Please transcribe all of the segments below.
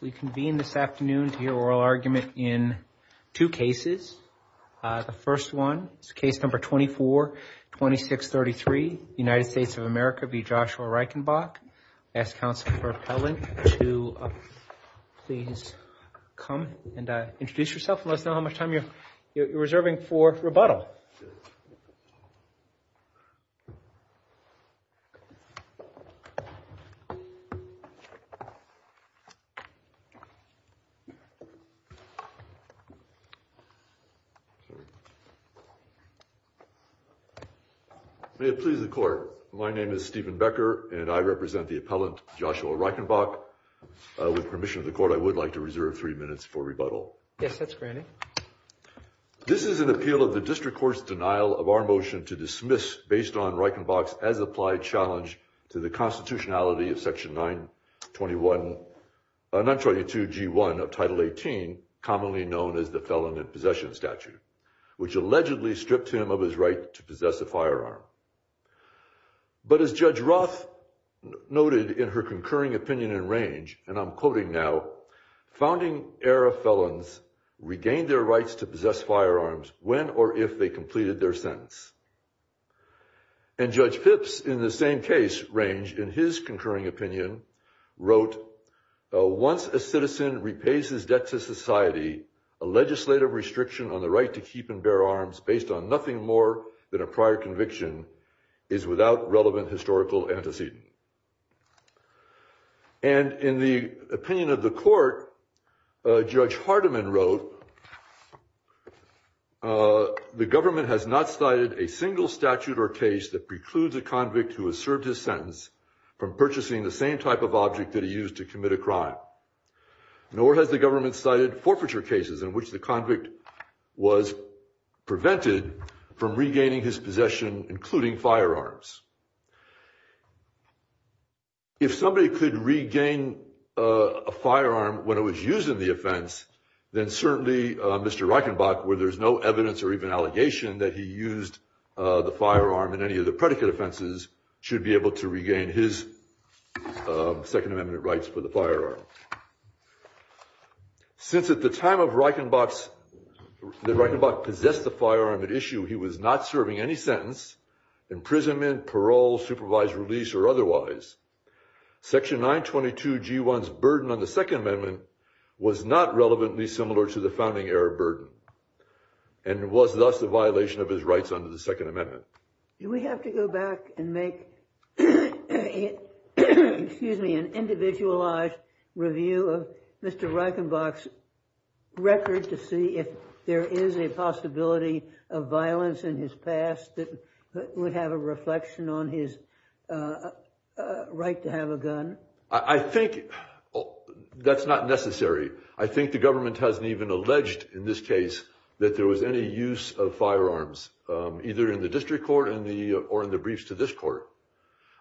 We convene this afternoon to hear oral argument in two cases. The first one is case number 24-2633, United States of America v. Joshua Reichenbach. I ask counsel for appellant to please come and introduce yourself and let us know how much time you're reserving for rebuttal. May it please the court, my name is Stephen Becker and I represent the appellant Joshua Reichenbach. With permission of the court, I would like to reserve three minutes for rebuttal. Yes, that's granted. This is an appeal of the district court's denial of our motion to dismiss based on Reichenbach's as applied challenge to the constitutionality of section 922 G1 of title 18, commonly known as the felon in possession statute, which allegedly stripped him of his right to possess a firearm. But as Judge Roth noted in her concurring opinion in range, and I'm quoting now, founding era felons regained their rights to possess firearms when or if they completed their sentence. And Judge Pipps in the same case range in his concurring opinion wrote, once a citizen repays his debt to society, a legislative restriction on the right to keep and bear arms based on nothing more than a prior conviction is without relevant historical antecedent. And in the opinion of the court, Judge Hardiman wrote, the government has not cited a single statute or case that precludes a convict who has served his sentence from purchasing the same type of object that he used to commit a crime, nor has the government cited forfeiture cases in which the convict was prevented from regaining his possession, including firearms. If somebody could regain a firearm when it was used in the offense, then certainly Mr. Reichenbach, where there's no evidence or even allegation that he used the firearm in any of the predicate offenses, should be able to regain his Second Amendment rights for the firearm. Since at the time of Reichenbach's, Reichenbach possessed the firearm at issue, he was not serving any sentence, imprisonment, parole, supervised release, or otherwise, Section 922 G1's burden on the Second Amendment was not relevantly similar to the founding era burden, and was thus a violation of his rights under the Second Amendment. Do we have to go back and make an individualized review of Mr. Reichenbach's record to see if there is a possibility of violence in his past that would have a reflection on his right to have a gun? I think that's not necessary. I think the government hasn't even alleged in this case that there was any use of firearms, either in the district court or in the briefs to this court.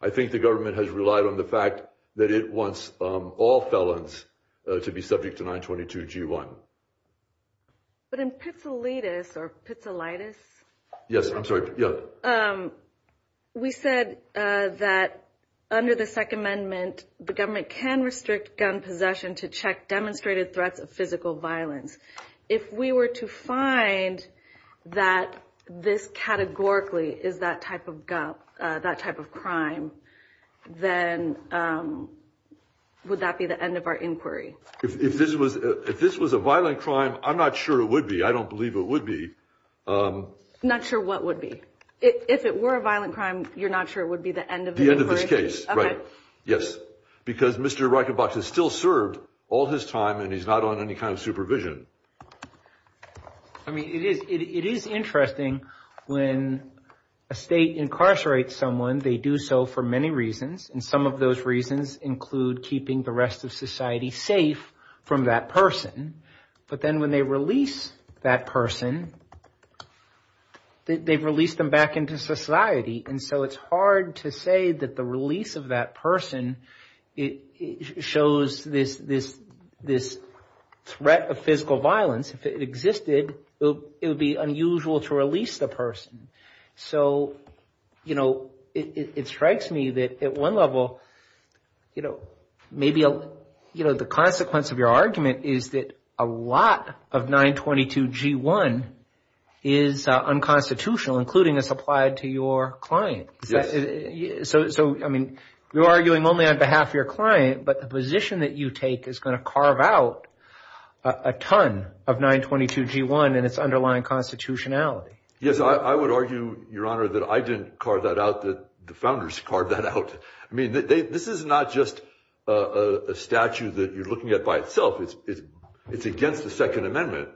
I think the government has relied on the fact that it wants all felons to be subject to 922 G1. But in Pizzolittis, we said that under the Second Amendment, the government can restrict gun possession to check demonstrated threats of physical violence. If we were to find that this categorically is that type of crime, then would that be the end of our inquiry? If this was a violent crime, I'm not sure it would be. I don't believe it would be. Not sure what would be? If it were a violent crime, you're not sure it would be the end of the inquiry? The end of this case, right. Yes. Because Mr. Reichenbach has still served all his time, and he's not on any kind of supervision. I mean, it is interesting when a state incarcerates someone, they do so for many reasons. And some of those reasons include keeping the rest of society safe from that person. But then when they release that person, they've released them back into society. And so it's hard to say that the release of that person shows this threat of physical violence. If it existed, it would be unusual to release the person. So, you know, it strikes me that at one level, you know, maybe, you know, the consequence of your argument is that a lot of 922 G1 is unconstitutional, including as applied to your client. So, I mean, you're arguing only on behalf of your client, but the position that you take is going to carve out a ton of 922 G1 and its underlying constitutionality. Yes, I would argue, Your Honor, that I didn't carve that out, that the founders carved that out. I mean, this is not just a statute that you're looking at by itself. It's against the Second Amendment.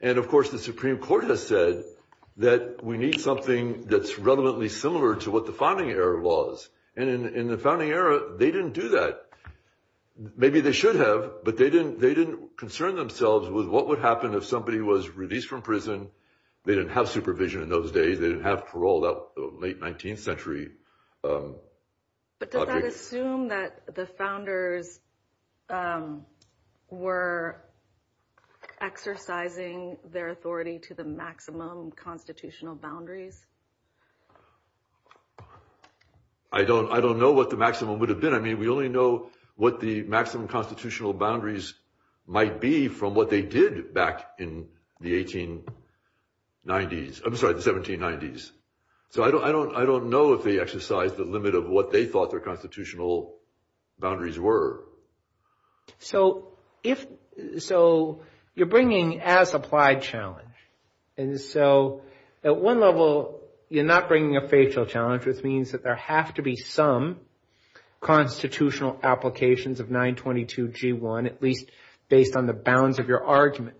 And, of course, the Supreme Court has said that we need something that's relevantly similar to what the founding era was. And in the founding era, they didn't do that. Maybe they should have, but they didn't concern themselves with what would happen if somebody was released from prison. They didn't have supervision in those days. They didn't have parole that late 19th century. I don't I don't know what the maximum would have been. I mean, we only know what the maximum constitutional boundaries might be from what they did back in the 1890s. I'm sorry, the 1790s. So, I don't know if they exercised the limit of what they thought their constitutional boundaries were. So, you're bringing as applied challenge. And so, at one level, you're not bringing a facial challenge, which means that there have to be some constitutional applications of 922 G1, at least based on the bounds of your argument.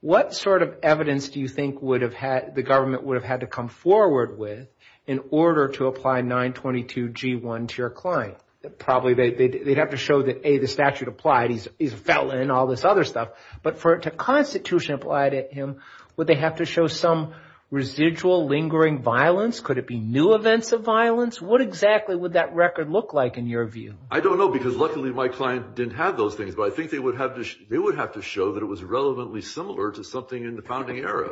What sort of evidence do you think would have had the government would have had to come forward with in order to apply 922 G1 to your client? Probably they'd have to show that, A, the statute applied. He's a felon and all this other stuff. But for it to constitution applied at him, would they have to show some residual lingering violence? Could it be new events of violence? What exactly would that record look like in your view? I don't know, because luckily my client didn't have those things, but I think they would have they would have to show that it was relevantly similar to something in the founding era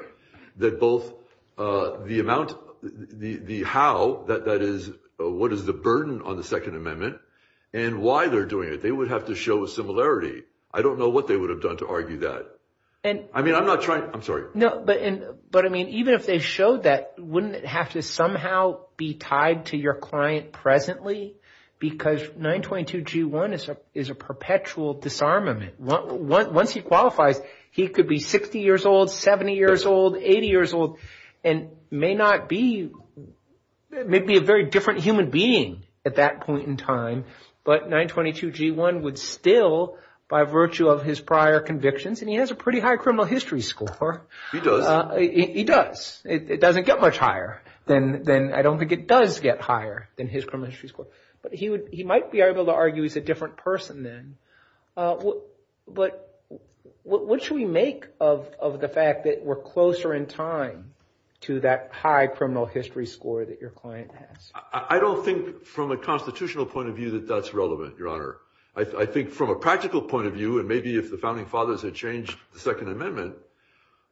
that both the amount the how that that is, what is the burden on the Second Amendment and why they're doing it? They would have to show a similarity. I don't know what they would have done to argue that. And I mean, I'm not trying. I'm sorry. No, but but I mean, even if they showed that, wouldn't it have to somehow be tied to your client presently? Because 922 G1 is a is a perpetual disarmament. Once he qualifies, he could be 60 years old, 70 years old, 80 years old and may not be maybe a very different human being at that point in time. But 922 G1 would still, by virtue of his prior convictions, and he has a pretty high criminal history score. He does. It doesn't get much higher than than I don't think it does get higher than his criminal history score. But he would he might be able to argue he's a different person then. But what should we make of the fact that we're closer in time to that high criminal history score that your client has? I don't think from a constitutional point of view that that's relevant, Your Honor. I think from a practical point of view, and maybe if the founding fathers had changed the Second Amendment,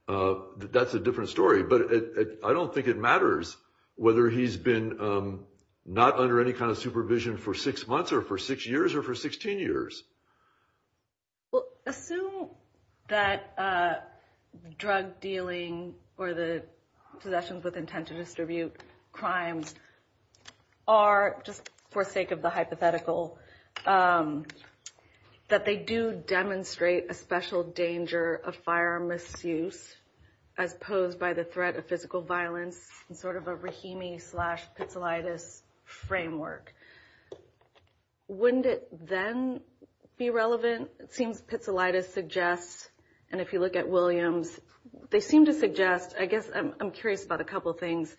that's a different story. But I don't think it matters whether he's been not under any kind of supervision for six months or for six years or for 16 years. Well, assume that drug dealing or the possessions with intent to distribute crimes are just for sake of the hypothetical, that they do demonstrate a special danger of firearm misuse as posed by the threat of physical violence and sort of a Rahimi slash pizzolatus framework. Wouldn't it then be relevant? It seems pizzolatus suggests, and if you look at Williams, they seem to suggest, I guess I'm curious about a couple of things.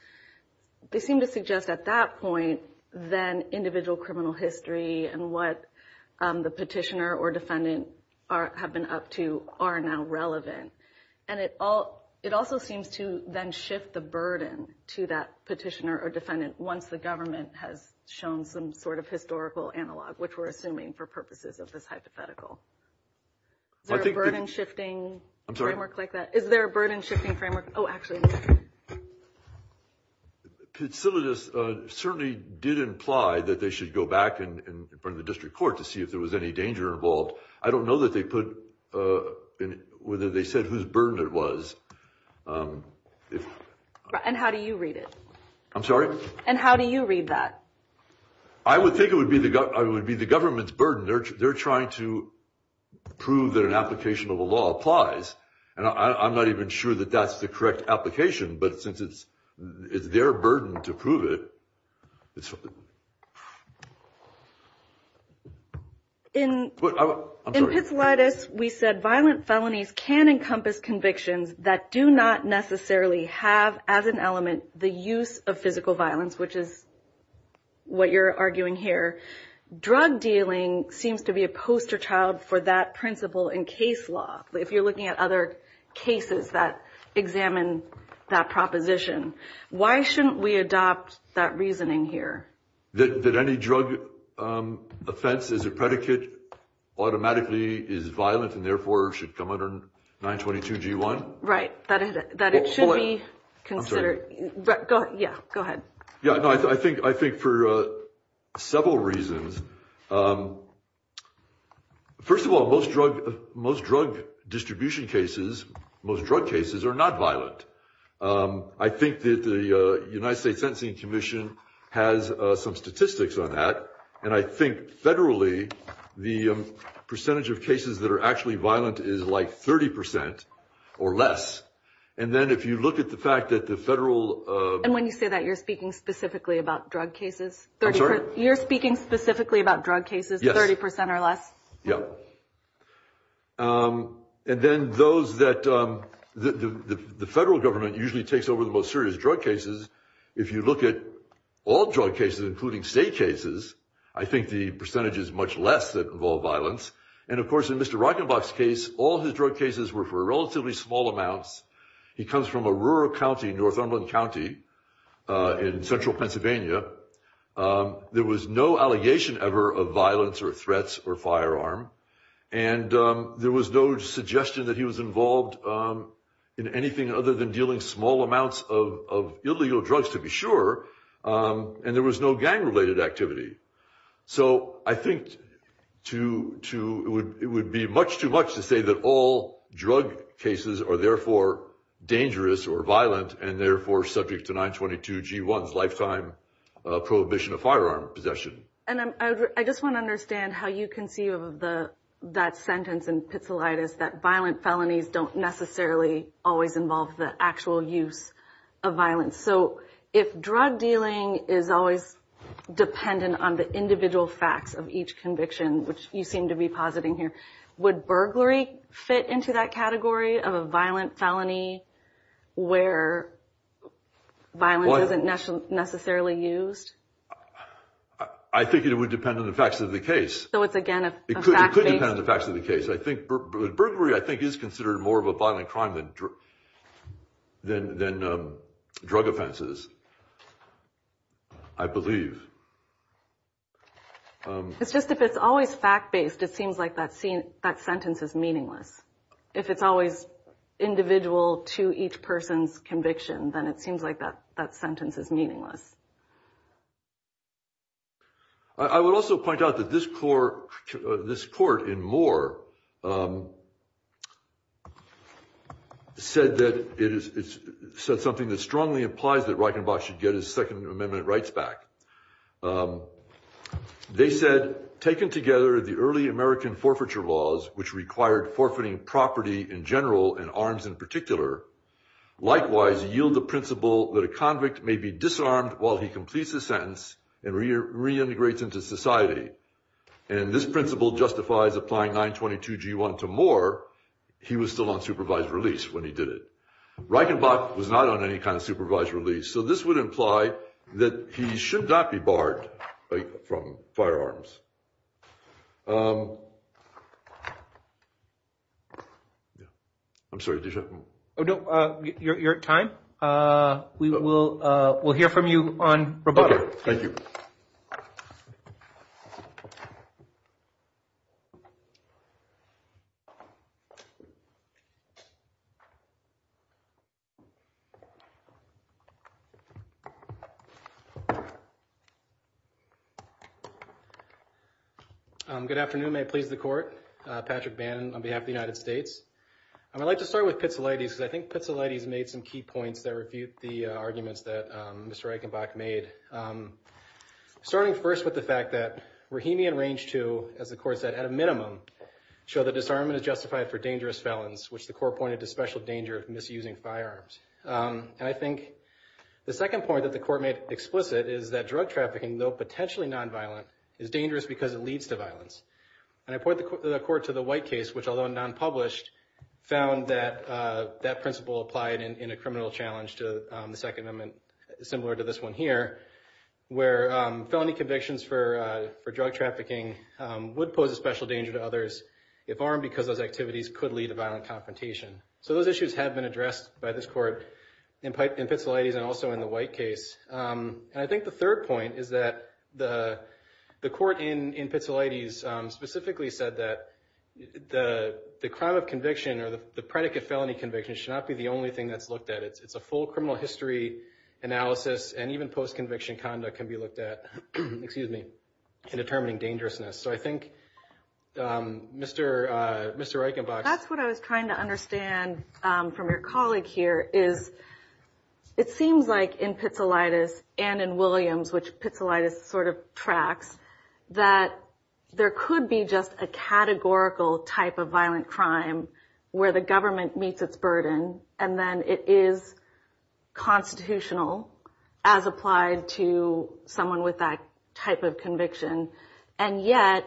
They seem to suggest at that point, then individual criminal history and what the petitioner or defendant have been up to are now relevant. And it all it also seems to then shift the burden to that petitioner or defendant once the government has shown some sort of historical analog, which we're assuming for purposes of this hypothetical. Is there a burden shifting framework like that? Is there a burden shifting framework? Oh, actually. Pizzolatus certainly did imply that they should go back and bring the district court to see if there was any danger involved. I don't know that they put in whether they said whose burden it was. And how do you read it? I'm sorry. And how do you read that? I would think it would be the government's burden. They're trying to prove that an application of a law applies. And I'm not even sure that that's the correct application. But since it's their burden to prove it. In Pizzolatus, we said violent felonies can encompass convictions that do not necessarily have as an element the use of physical violence, which is what you're arguing here. Drug dealing seems to be a poster child for that principle in case law. If you're looking at other cases that examine that proposition, why shouldn't we adopt that reasoning here? That any drug offense is a predicate automatically is violent and therefore should come under 922 G1. Right. That it should be considered. Yeah, go ahead. Yeah, I think I think for several reasons. First of all, most drug most drug distribution cases, most drug cases are not violent. I think that the United States Sentencing Commission has some statistics on that. And I think federally, the percentage of cases that are actually violent is like 30 percent or less. And then if you look at the fact that the federal. And when you say that, you're speaking specifically about drug cases. You're speaking specifically about drug cases, 30 percent or less. Yeah. And then those that the federal government usually takes over the most serious drug cases. If you look at all drug cases, including state cases, I think the percentage is much less that involve violence. And of course, in Mr. Rockenbach's case, all his drug cases were for relatively small amounts. He comes from a rural county, Northumberland County in central Pennsylvania. There was no allegation ever of violence or threats or firearm. And there was no suggestion that he was involved in anything other than dealing small amounts of illegal drugs, to be sure. And there was no gang related activity. So I think it would be much too much to say that all drug cases are therefore dangerous or violent and therefore subject to 922 G1's lifetime prohibition of firearm possession. And I just want to understand how you conceive of that sentence in Pizzolittis, that violent felonies don't necessarily always involve the actual use of violence. So if drug dealing is always dependent on the individual facts of each conviction, which you seem to be positing here, would burglary fit into that category of a violent felony where violence isn't necessarily used? I think it would depend on the facts of the case. It could depend on the facts of the case. I think burglary I think is considered more of a violent crime than drug offenses, I believe. It's just if it's always fact based, it seems like that sentence is meaningless. If it's always individual to each person's conviction, then it seems like that sentence is meaningless. I would also point out that this court in Moore said something that strongly implies that Reichenbach should get his Second Amendment rights back. They said, taken together the early American forfeiture laws, which required forfeiting property in general and arms in particular, likewise yield the principle that a convict may be disarmed while he completes his sentence and reintegrates into society. And this principle justifies applying 922G1 to Moore. He was still on supervised release when he did it. Reichenbach was not on any kind of supervised release. So this would imply that he should not be barred from firearms. I'm sorry. Oh, no. Your time. We will. We'll hear from you on. Thank you. Good afternoon. May it please the court. Patrick Bannon on behalf of the United States. I'd like to start with Pizzolatti's because I think Pizzolatti's made some key points that refute the arguments that Mr. Reichenbach made. Starting first with the fact that Rahimi and Range II, as the court said, at a minimum, show that disarmament is justified for dangerous felons, which the court pointed to special danger of misusing firearms. And I think the second point that the court made explicit is that drug trafficking, though potentially nonviolent, is dangerous because it leads to violence. And I point the court to the White case, which, although nonpublished, found that that principle applied in a criminal challenge to the Second Amendment, similar to this one here, where felony convictions for drug trafficking would pose a special danger to others, if armed because those activities could lead to violent confrontation. So those issues have been addressed by this court in Pizzolatti's and also in the White case. And I think the third point is that the court in Pizzolatti's specifically said that the crime of conviction or the predicate felony conviction should not be the only thing that's looked at. It's a full criminal history analysis, and even post-conviction conduct can be looked at in determining dangerousness. So I think Mr. Reichenbach... And from your colleague here, it seems like in Pizzolatti's and in Williams, which Pizzolatti's sort of tracks, that there could be just a categorical type of violent crime where the government meets its burden, and then it is constitutional as applied to someone with that type of conviction. And yet,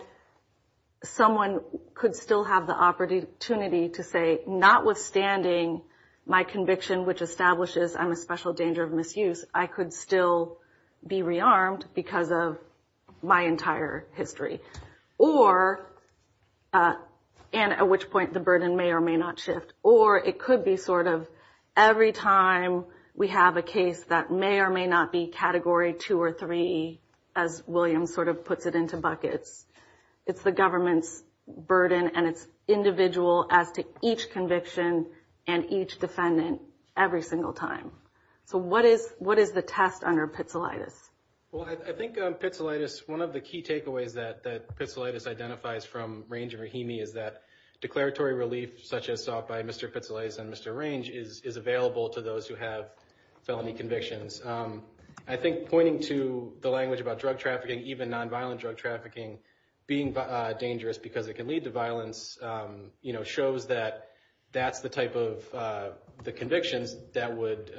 someone could still have the opportunity to say, notwithstanding my conviction, which establishes I'm a special danger of misuse, I could still be rearmed because of my entire history, and at which point the burden may or may not shift. Or it could be sort of every time we have a case that may or may not be Category 2 or 3, as Williams sort of puts it into buckets. It's the government's burden, and it's individual as to each conviction and each defendant every single time. So what is the test under Pizzolatti's? Well, I think Pizzolatti's, one of the key takeaways that Pizzolatti's identifies from Range and Rahimi is that declaratory relief such as sought by Mr. Pizzolatti's and Mr. Range is available to those who have felony convictions. I think pointing to the language about drug trafficking, even nonviolent drug trafficking, being dangerous because it can lead to violence, shows that that's the type of convictions that would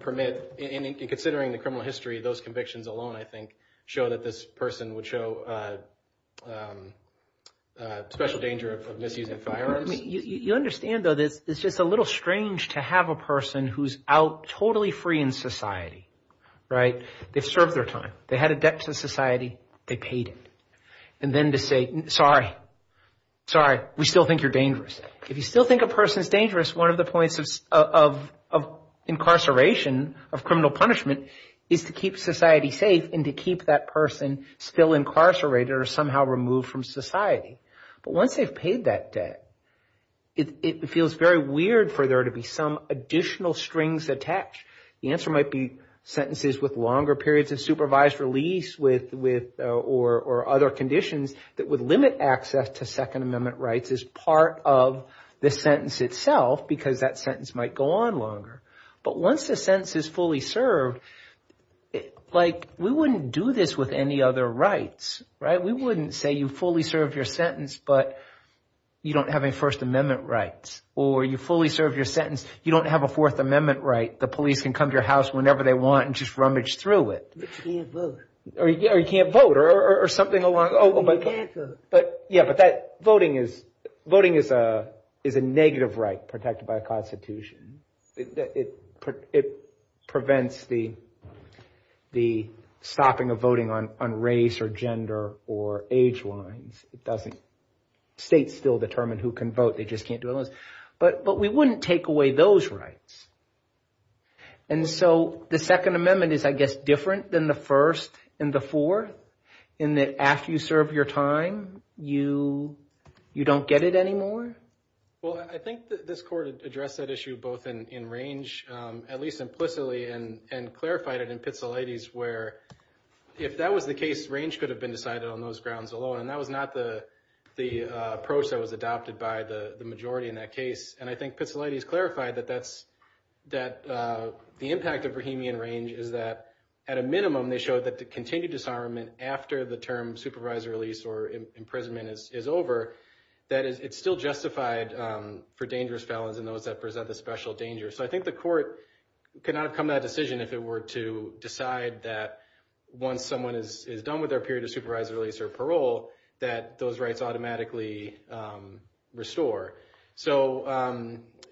permit, and considering the criminal history, those convictions alone, I think, show that this person would show special danger of misusing firearms. You understand, though, that it's just a little strange to have a person who's out totally free in society, right? They've served their time. They had a debt to society. They paid it. And then to say, sorry, sorry, we still think you're dangerous. If you still think a person's dangerous, one of the points of incarceration, of criminal punishment, is to keep society safe and to keep that person still incarcerated or somehow removed from society. But once they've paid that debt, it feels very weird for there to be some additional strings attached. The answer might be sentences with longer periods of supervised release or other conditions that would limit access to Second Amendment rights as part of the sentence itself because that sentence might go on longer. But once the sentence is fully served, like, we wouldn't do this with any other rights, right? We wouldn't say you fully serve your sentence, but you don't have any First Amendment rights. Or you fully serve your sentence, you don't have a Fourth Amendment right. The police can come to your house whenever they want and just rummage through it. Or you can't vote or something along those lines. But yeah, but that voting is a negative right protected by the Constitution. It prevents the stopping of voting on race or gender or age lines. It doesn't. States still determine who can vote. They just can't do it. But we wouldn't take away those rights. And so the Second Amendment is, I guess, different than the first and the fourth in that after you serve your time, you don't get it anymore. Well, I think this court addressed that issue both in range, at least implicitly, and clarified it in Pitsilates where if that was the case, range could have been decided on those grounds alone. And that was not the approach that was adopted by the majority in that case. And I think Pitsilates clarified that the impact of Brahimian range is that at a minimum, they showed that the continued disarmament after the term supervisor release or imprisonment is over, that it's still justified for dangerous felons and those that present a special danger. So I think the court could not have come to that decision if it were to decide that once someone is done with their period of supervisor release or parole, that those rights automatically restore. So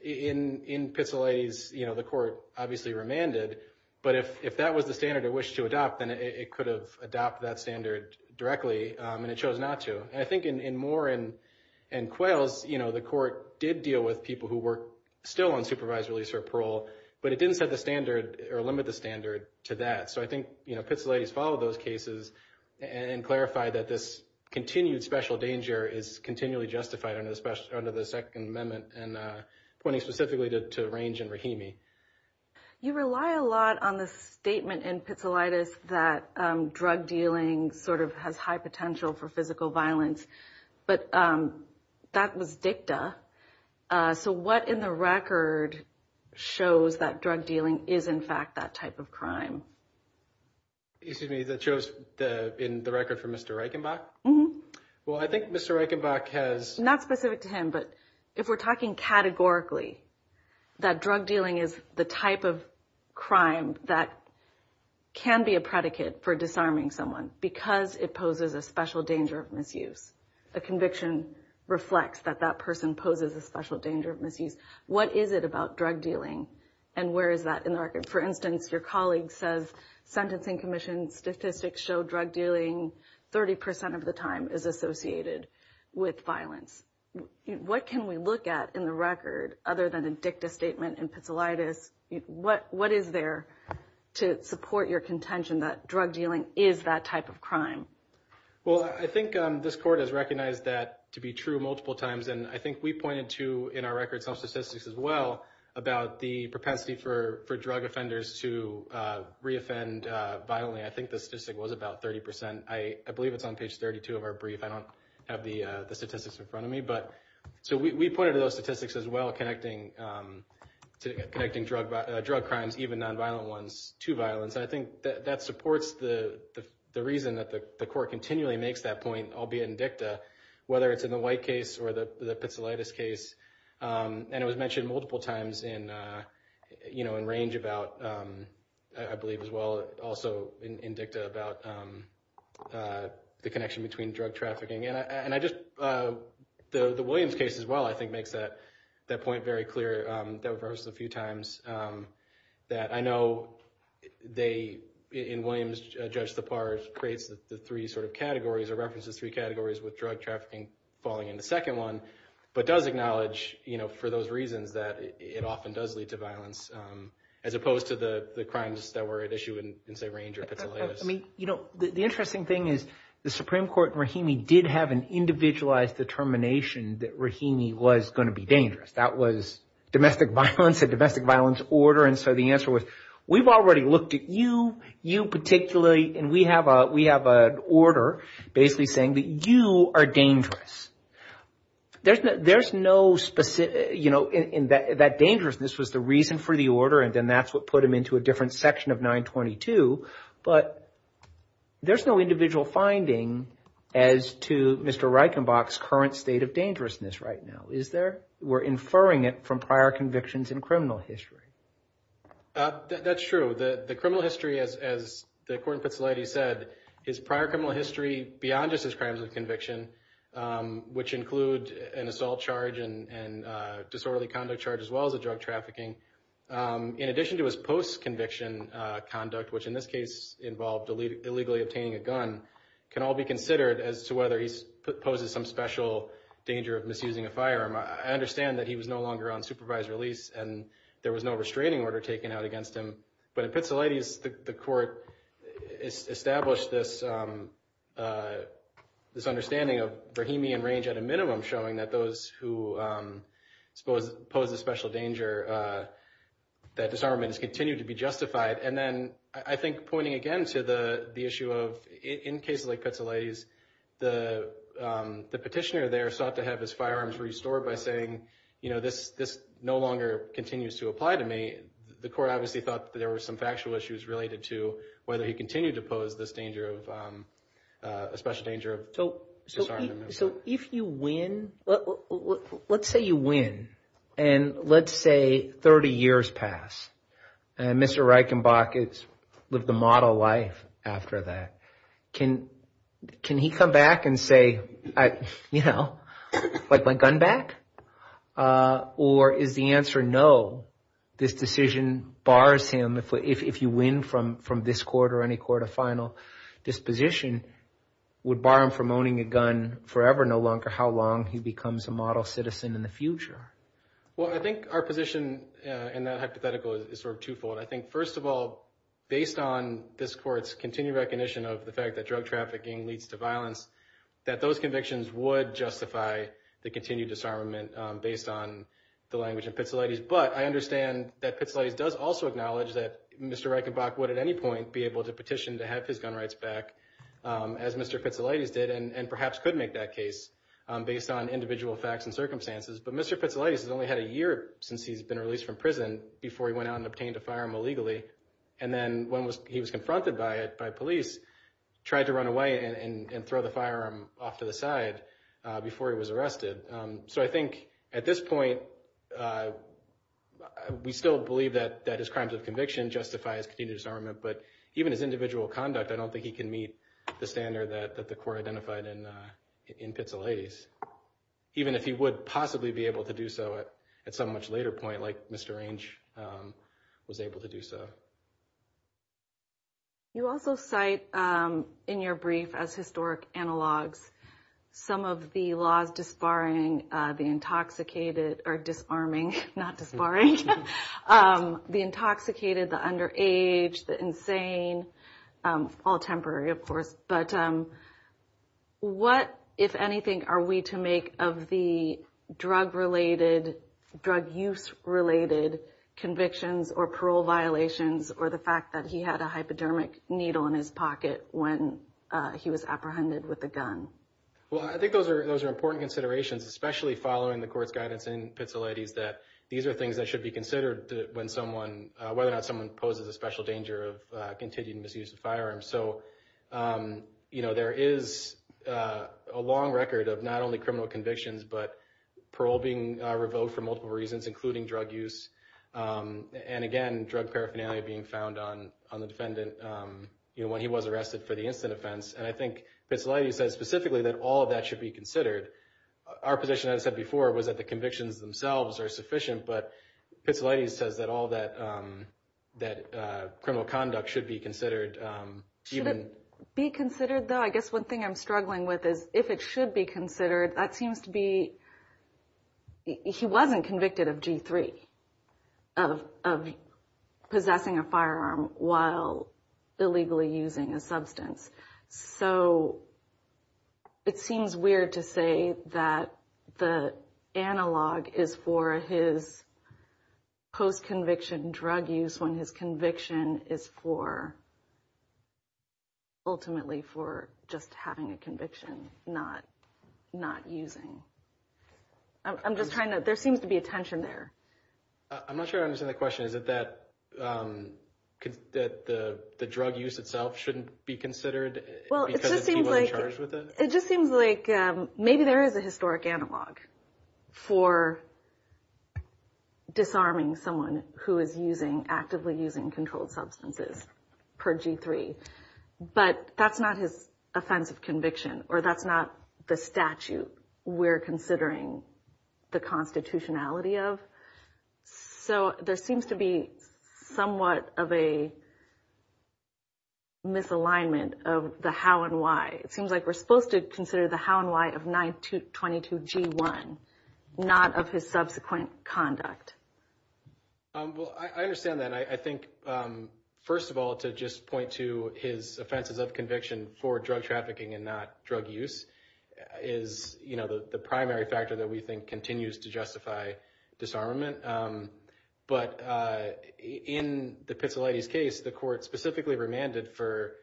in Pitsilates, the court obviously remanded. But if that was the standard it wished to adopt, then it could have adopted that standard directly, and it chose not to. And I think in Moore and Quails, you know, the court did deal with people who were still on supervisor release or parole, but it didn't set the standard or limit the standard to that. So I think, you know, Pitsilates followed those cases and clarified that this continued special danger is continually justified under the Second Amendment and pointing specifically to range and Brahimi. You rely a lot on the statement in Pitsilates that drug dealing sort of has high potential for physical violence, but that was dicta. So what in the record shows that drug dealing is in fact that type of crime? Excuse me, that shows in the record for Mr. Reichenbach? Well, I think Mr. Reichenbach has... Not specific to him, but if we're talking categorically that drug dealing is the type of crime that can be a predicate for disarming someone because it poses a special danger of misuse. A conviction reflects that that person poses a special danger of misuse. What is it about drug dealing and where is that in the record? For instance, your colleague says sentencing commission statistics show drug dealing 30 percent of the time is associated with violence. What can we look at in the record other than a dicta statement in Pitsilates? What is there to support your contention that drug dealing is that type of crime? Well, I think this court has recognized that to be true multiple times, and I think we pointed to in our record some statistics as well about the propensity for drug offenders to reoffend violently. I think the statistic was about 30 percent. I believe it's on page 32 of our brief. I don't have the statistics in front of me. So we pointed to those statistics as well connecting drug crimes, even nonviolent ones, to violence. And I think that supports the reason that the court continually makes that point, albeit in dicta, whether it's in the White case or the Pitsilates case. And it was mentioned multiple times in range about, I believe as well, also in dicta about the connection between drug trafficking. And I just, the Williams case as well, I think makes that point very clear. That was referenced a few times, that I know they, in Williams, Judge Thapar creates the three sort of categories or references three categories with drug trafficking falling in the second one, but does acknowledge for those reasons that it often does lead to violence, as opposed to the crimes that were at issue in, say, range or Pitsilates. I mean, the interesting thing is the Supreme Court in Rahimi did have an individualized determination that Rahimi was going to be dangerous. It was a domestic violence, a domestic violence order. And so the answer was, we've already looked at you, you particularly, and we have an order basically saying that you are dangerous. There's no specific, you know, that dangerousness was the reason for the order, and then that's what put him into a different section of 922. But there's no individual finding as to Mr. Reichenbach's current state of dangerousness right now, is there? There's no convictions in criminal history. That's true. The criminal history, as the court in Pitsilates said, is prior criminal history beyond just his crimes of conviction, which include an assault charge and disorderly conduct charge as well as the drug trafficking. In addition to his post-conviction conduct, which in this case involved illegally obtaining a gun, can all be considered as to whether he poses some special danger of misusing a firearm. That was the case, and there was no restraining order taken out against him. But in Pitsilates, the court established this understanding of Brahemian range at a minimum showing that those who pose a special danger, that disarmament has continued to be justified. And then I think pointing again to the issue of, in cases like Pitsilates, the petitioner there sought to have his firearms restored and the petitioner continues to apply to me. The court obviously thought that there were some factual issues related to whether he continued to pose this danger of, a special danger of disarmament. So if you win, let's say you win, and let's say 30 years pass, and Mr. Reichenbach has lived the model life after that, can he come back and say, you know, forever no, this decision bars him if you win from this court or any court of final disposition, would bar him from owning a gun forever no longer, how long he becomes a model citizen in the future? Well, I think our position in that hypothetical is sort of twofold. I think first of all, based on this court's continued recognition of the fact that drug trafficking leads to violence, that those convictions would justify the possession of a gun. But I understand that Pitsilates does also acknowledge that Mr. Reichenbach would at any point be able to petition to have his gun rights back, as Mr. Pitsilates did, and perhaps could make that case based on individual facts and circumstances, but Mr. Pitsilates has only had a year since he's been released from prison before he went out and obtained a firearm illegally, and then when he was confronted by it, by police, tried to run away and throw the firearm off to the side before he was arrested. So I think at this point, we still believe that his crimes of conviction justify his continued disarmament, but even his individual conduct, I don't think he can meet the standard that the court identified in Pitsilates, even if he would possibly be able to do so at some much later point, like Mr. Reichenbach was able to do so. You also cite in your brief as historic analogs some of the laws disbarring, the intoxicated, or disarming, not disbarring, the intoxicated, the underage, the insane, all temporary, of course, but what, if anything, are we to make of the drug-related, drug-use-related convictions or parole violations or the fact that he had a hypodermic needle in his pocket when he was apprehended with a gun? Well, I think those are important considerations, especially following the court's guidance in Pitsilates that these are things that should be considered when someone, whether or not someone poses a special danger of continued misuse of firearms. So, you know, there is a long record of not only criminal convictions, but parole being revoked for multiple reasons, including drug use. And again, drug paraphernalia being found on the defendant when he was arrested for the incident offense. And I think Pitsilates says specifically that all of that should be considered. Our position, as I said before, was that the convictions themselves are sufficient, but Pitsilates says that all that criminal conduct should be considered. Should it be considered, though? I guess one thing I'm struggling with is if it should be considered, that seems to be, it seems to be a G3 of possessing a firearm while illegally using a substance. So it seems weird to say that the analog is for his post-conviction drug use when his conviction is for, ultimately for just having a conviction, not using. I'm just trying to, there seems to be a tension there. I'm not sure I understand the question. Is it that the drug use itself shouldn't be considered because it's people in charge with it? It just seems like maybe there is a historic analog for disarming someone who is actively using controlled substances per G3, but that's not his offense of conviction, or that's not the statute we're considering the constitutionality of. So there seems to be somewhat of a misalignment of the how and why. It seems like we're supposed to consider the how and why of 922G1, not of his subsequent conduct. Well, I understand that. I think, first of all, to just point to his offenses of conviction for drug trafficking and not drug use is the primary factor that we think continues to justify disarmament. But in the Pizzolatti's case, the court specifically remanded for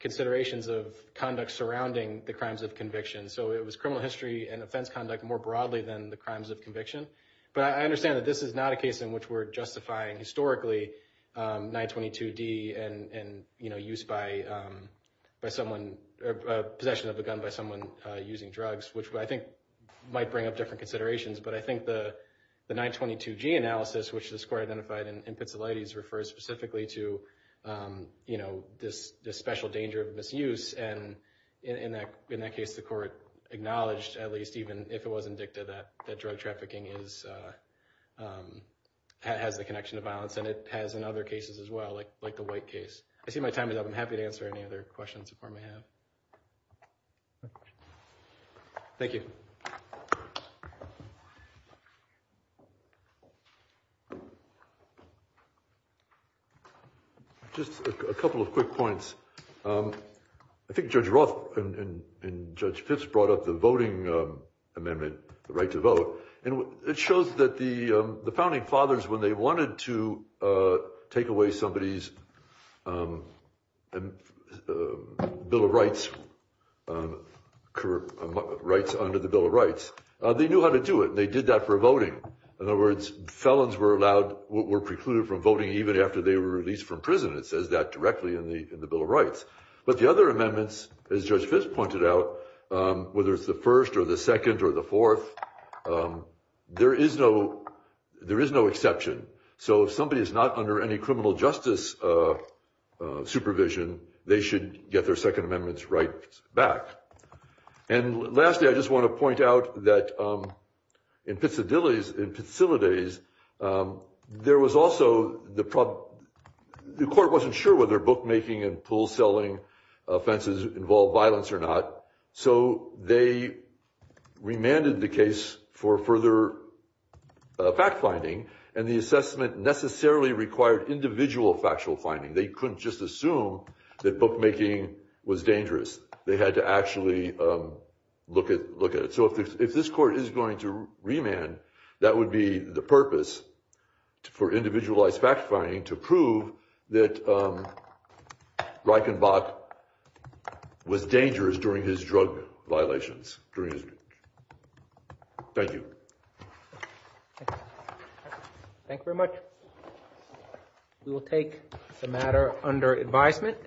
considerations of conduct surrounding the crimes of conviction. So it was criminal history and offense conduct more broadly than the crimes of conviction. But I understand that this is not a case in which we're justifying historically 922D and use by someone, possession of a gun by someone using drugs, which I think might bring up different considerations. But I think the 922G analysis, which this court identified in Pizzolatti's refers specifically to this special danger of misuse. And in that case, the court acknowledged, at least even if it wasn't dicta, that drug trafficking has the connection to violence. And it has in other cases as well, like the White case. I see my time is up. I'm happy to answer any other questions the court may have. Thank you. Just a couple of quick points. I think Judge Roth and Judge Fitz brought up the voting amendment, the right to vote. And it shows that the founding fathers, when they wanted to take away somebody's Bill of Rights, rights under the Bill of Rights, they knew how to do it. They did that for voting. In other words, felons were allowed, were precluded from voting even after they were released from prison. It says that directly in the Bill of Rights. But the other amendments, as Judge Fitz pointed out, whether it's the first or the second or the fourth, there is no exception. So if somebody is not under any criminal justice supervision, they should get their second amendments right back. And lastly, I just want to point out that in Pitsadilles, in Pitsilides, there was also the problem, the court wasn't sure whether bookmaking and pool selling offenses involved violence or not. So they remanded the case for further fact-finding. And the assessment necessarily required individual factual finding. They couldn't just assume that bookmaking was dangerous. They had to actually look at it. So if this court is going to remand, that would be the purpose for individualized fact-finding to prove that Reichenbach was dangerous during his drug violations. Thank you. Thank you very much. We will take the matter under advisement.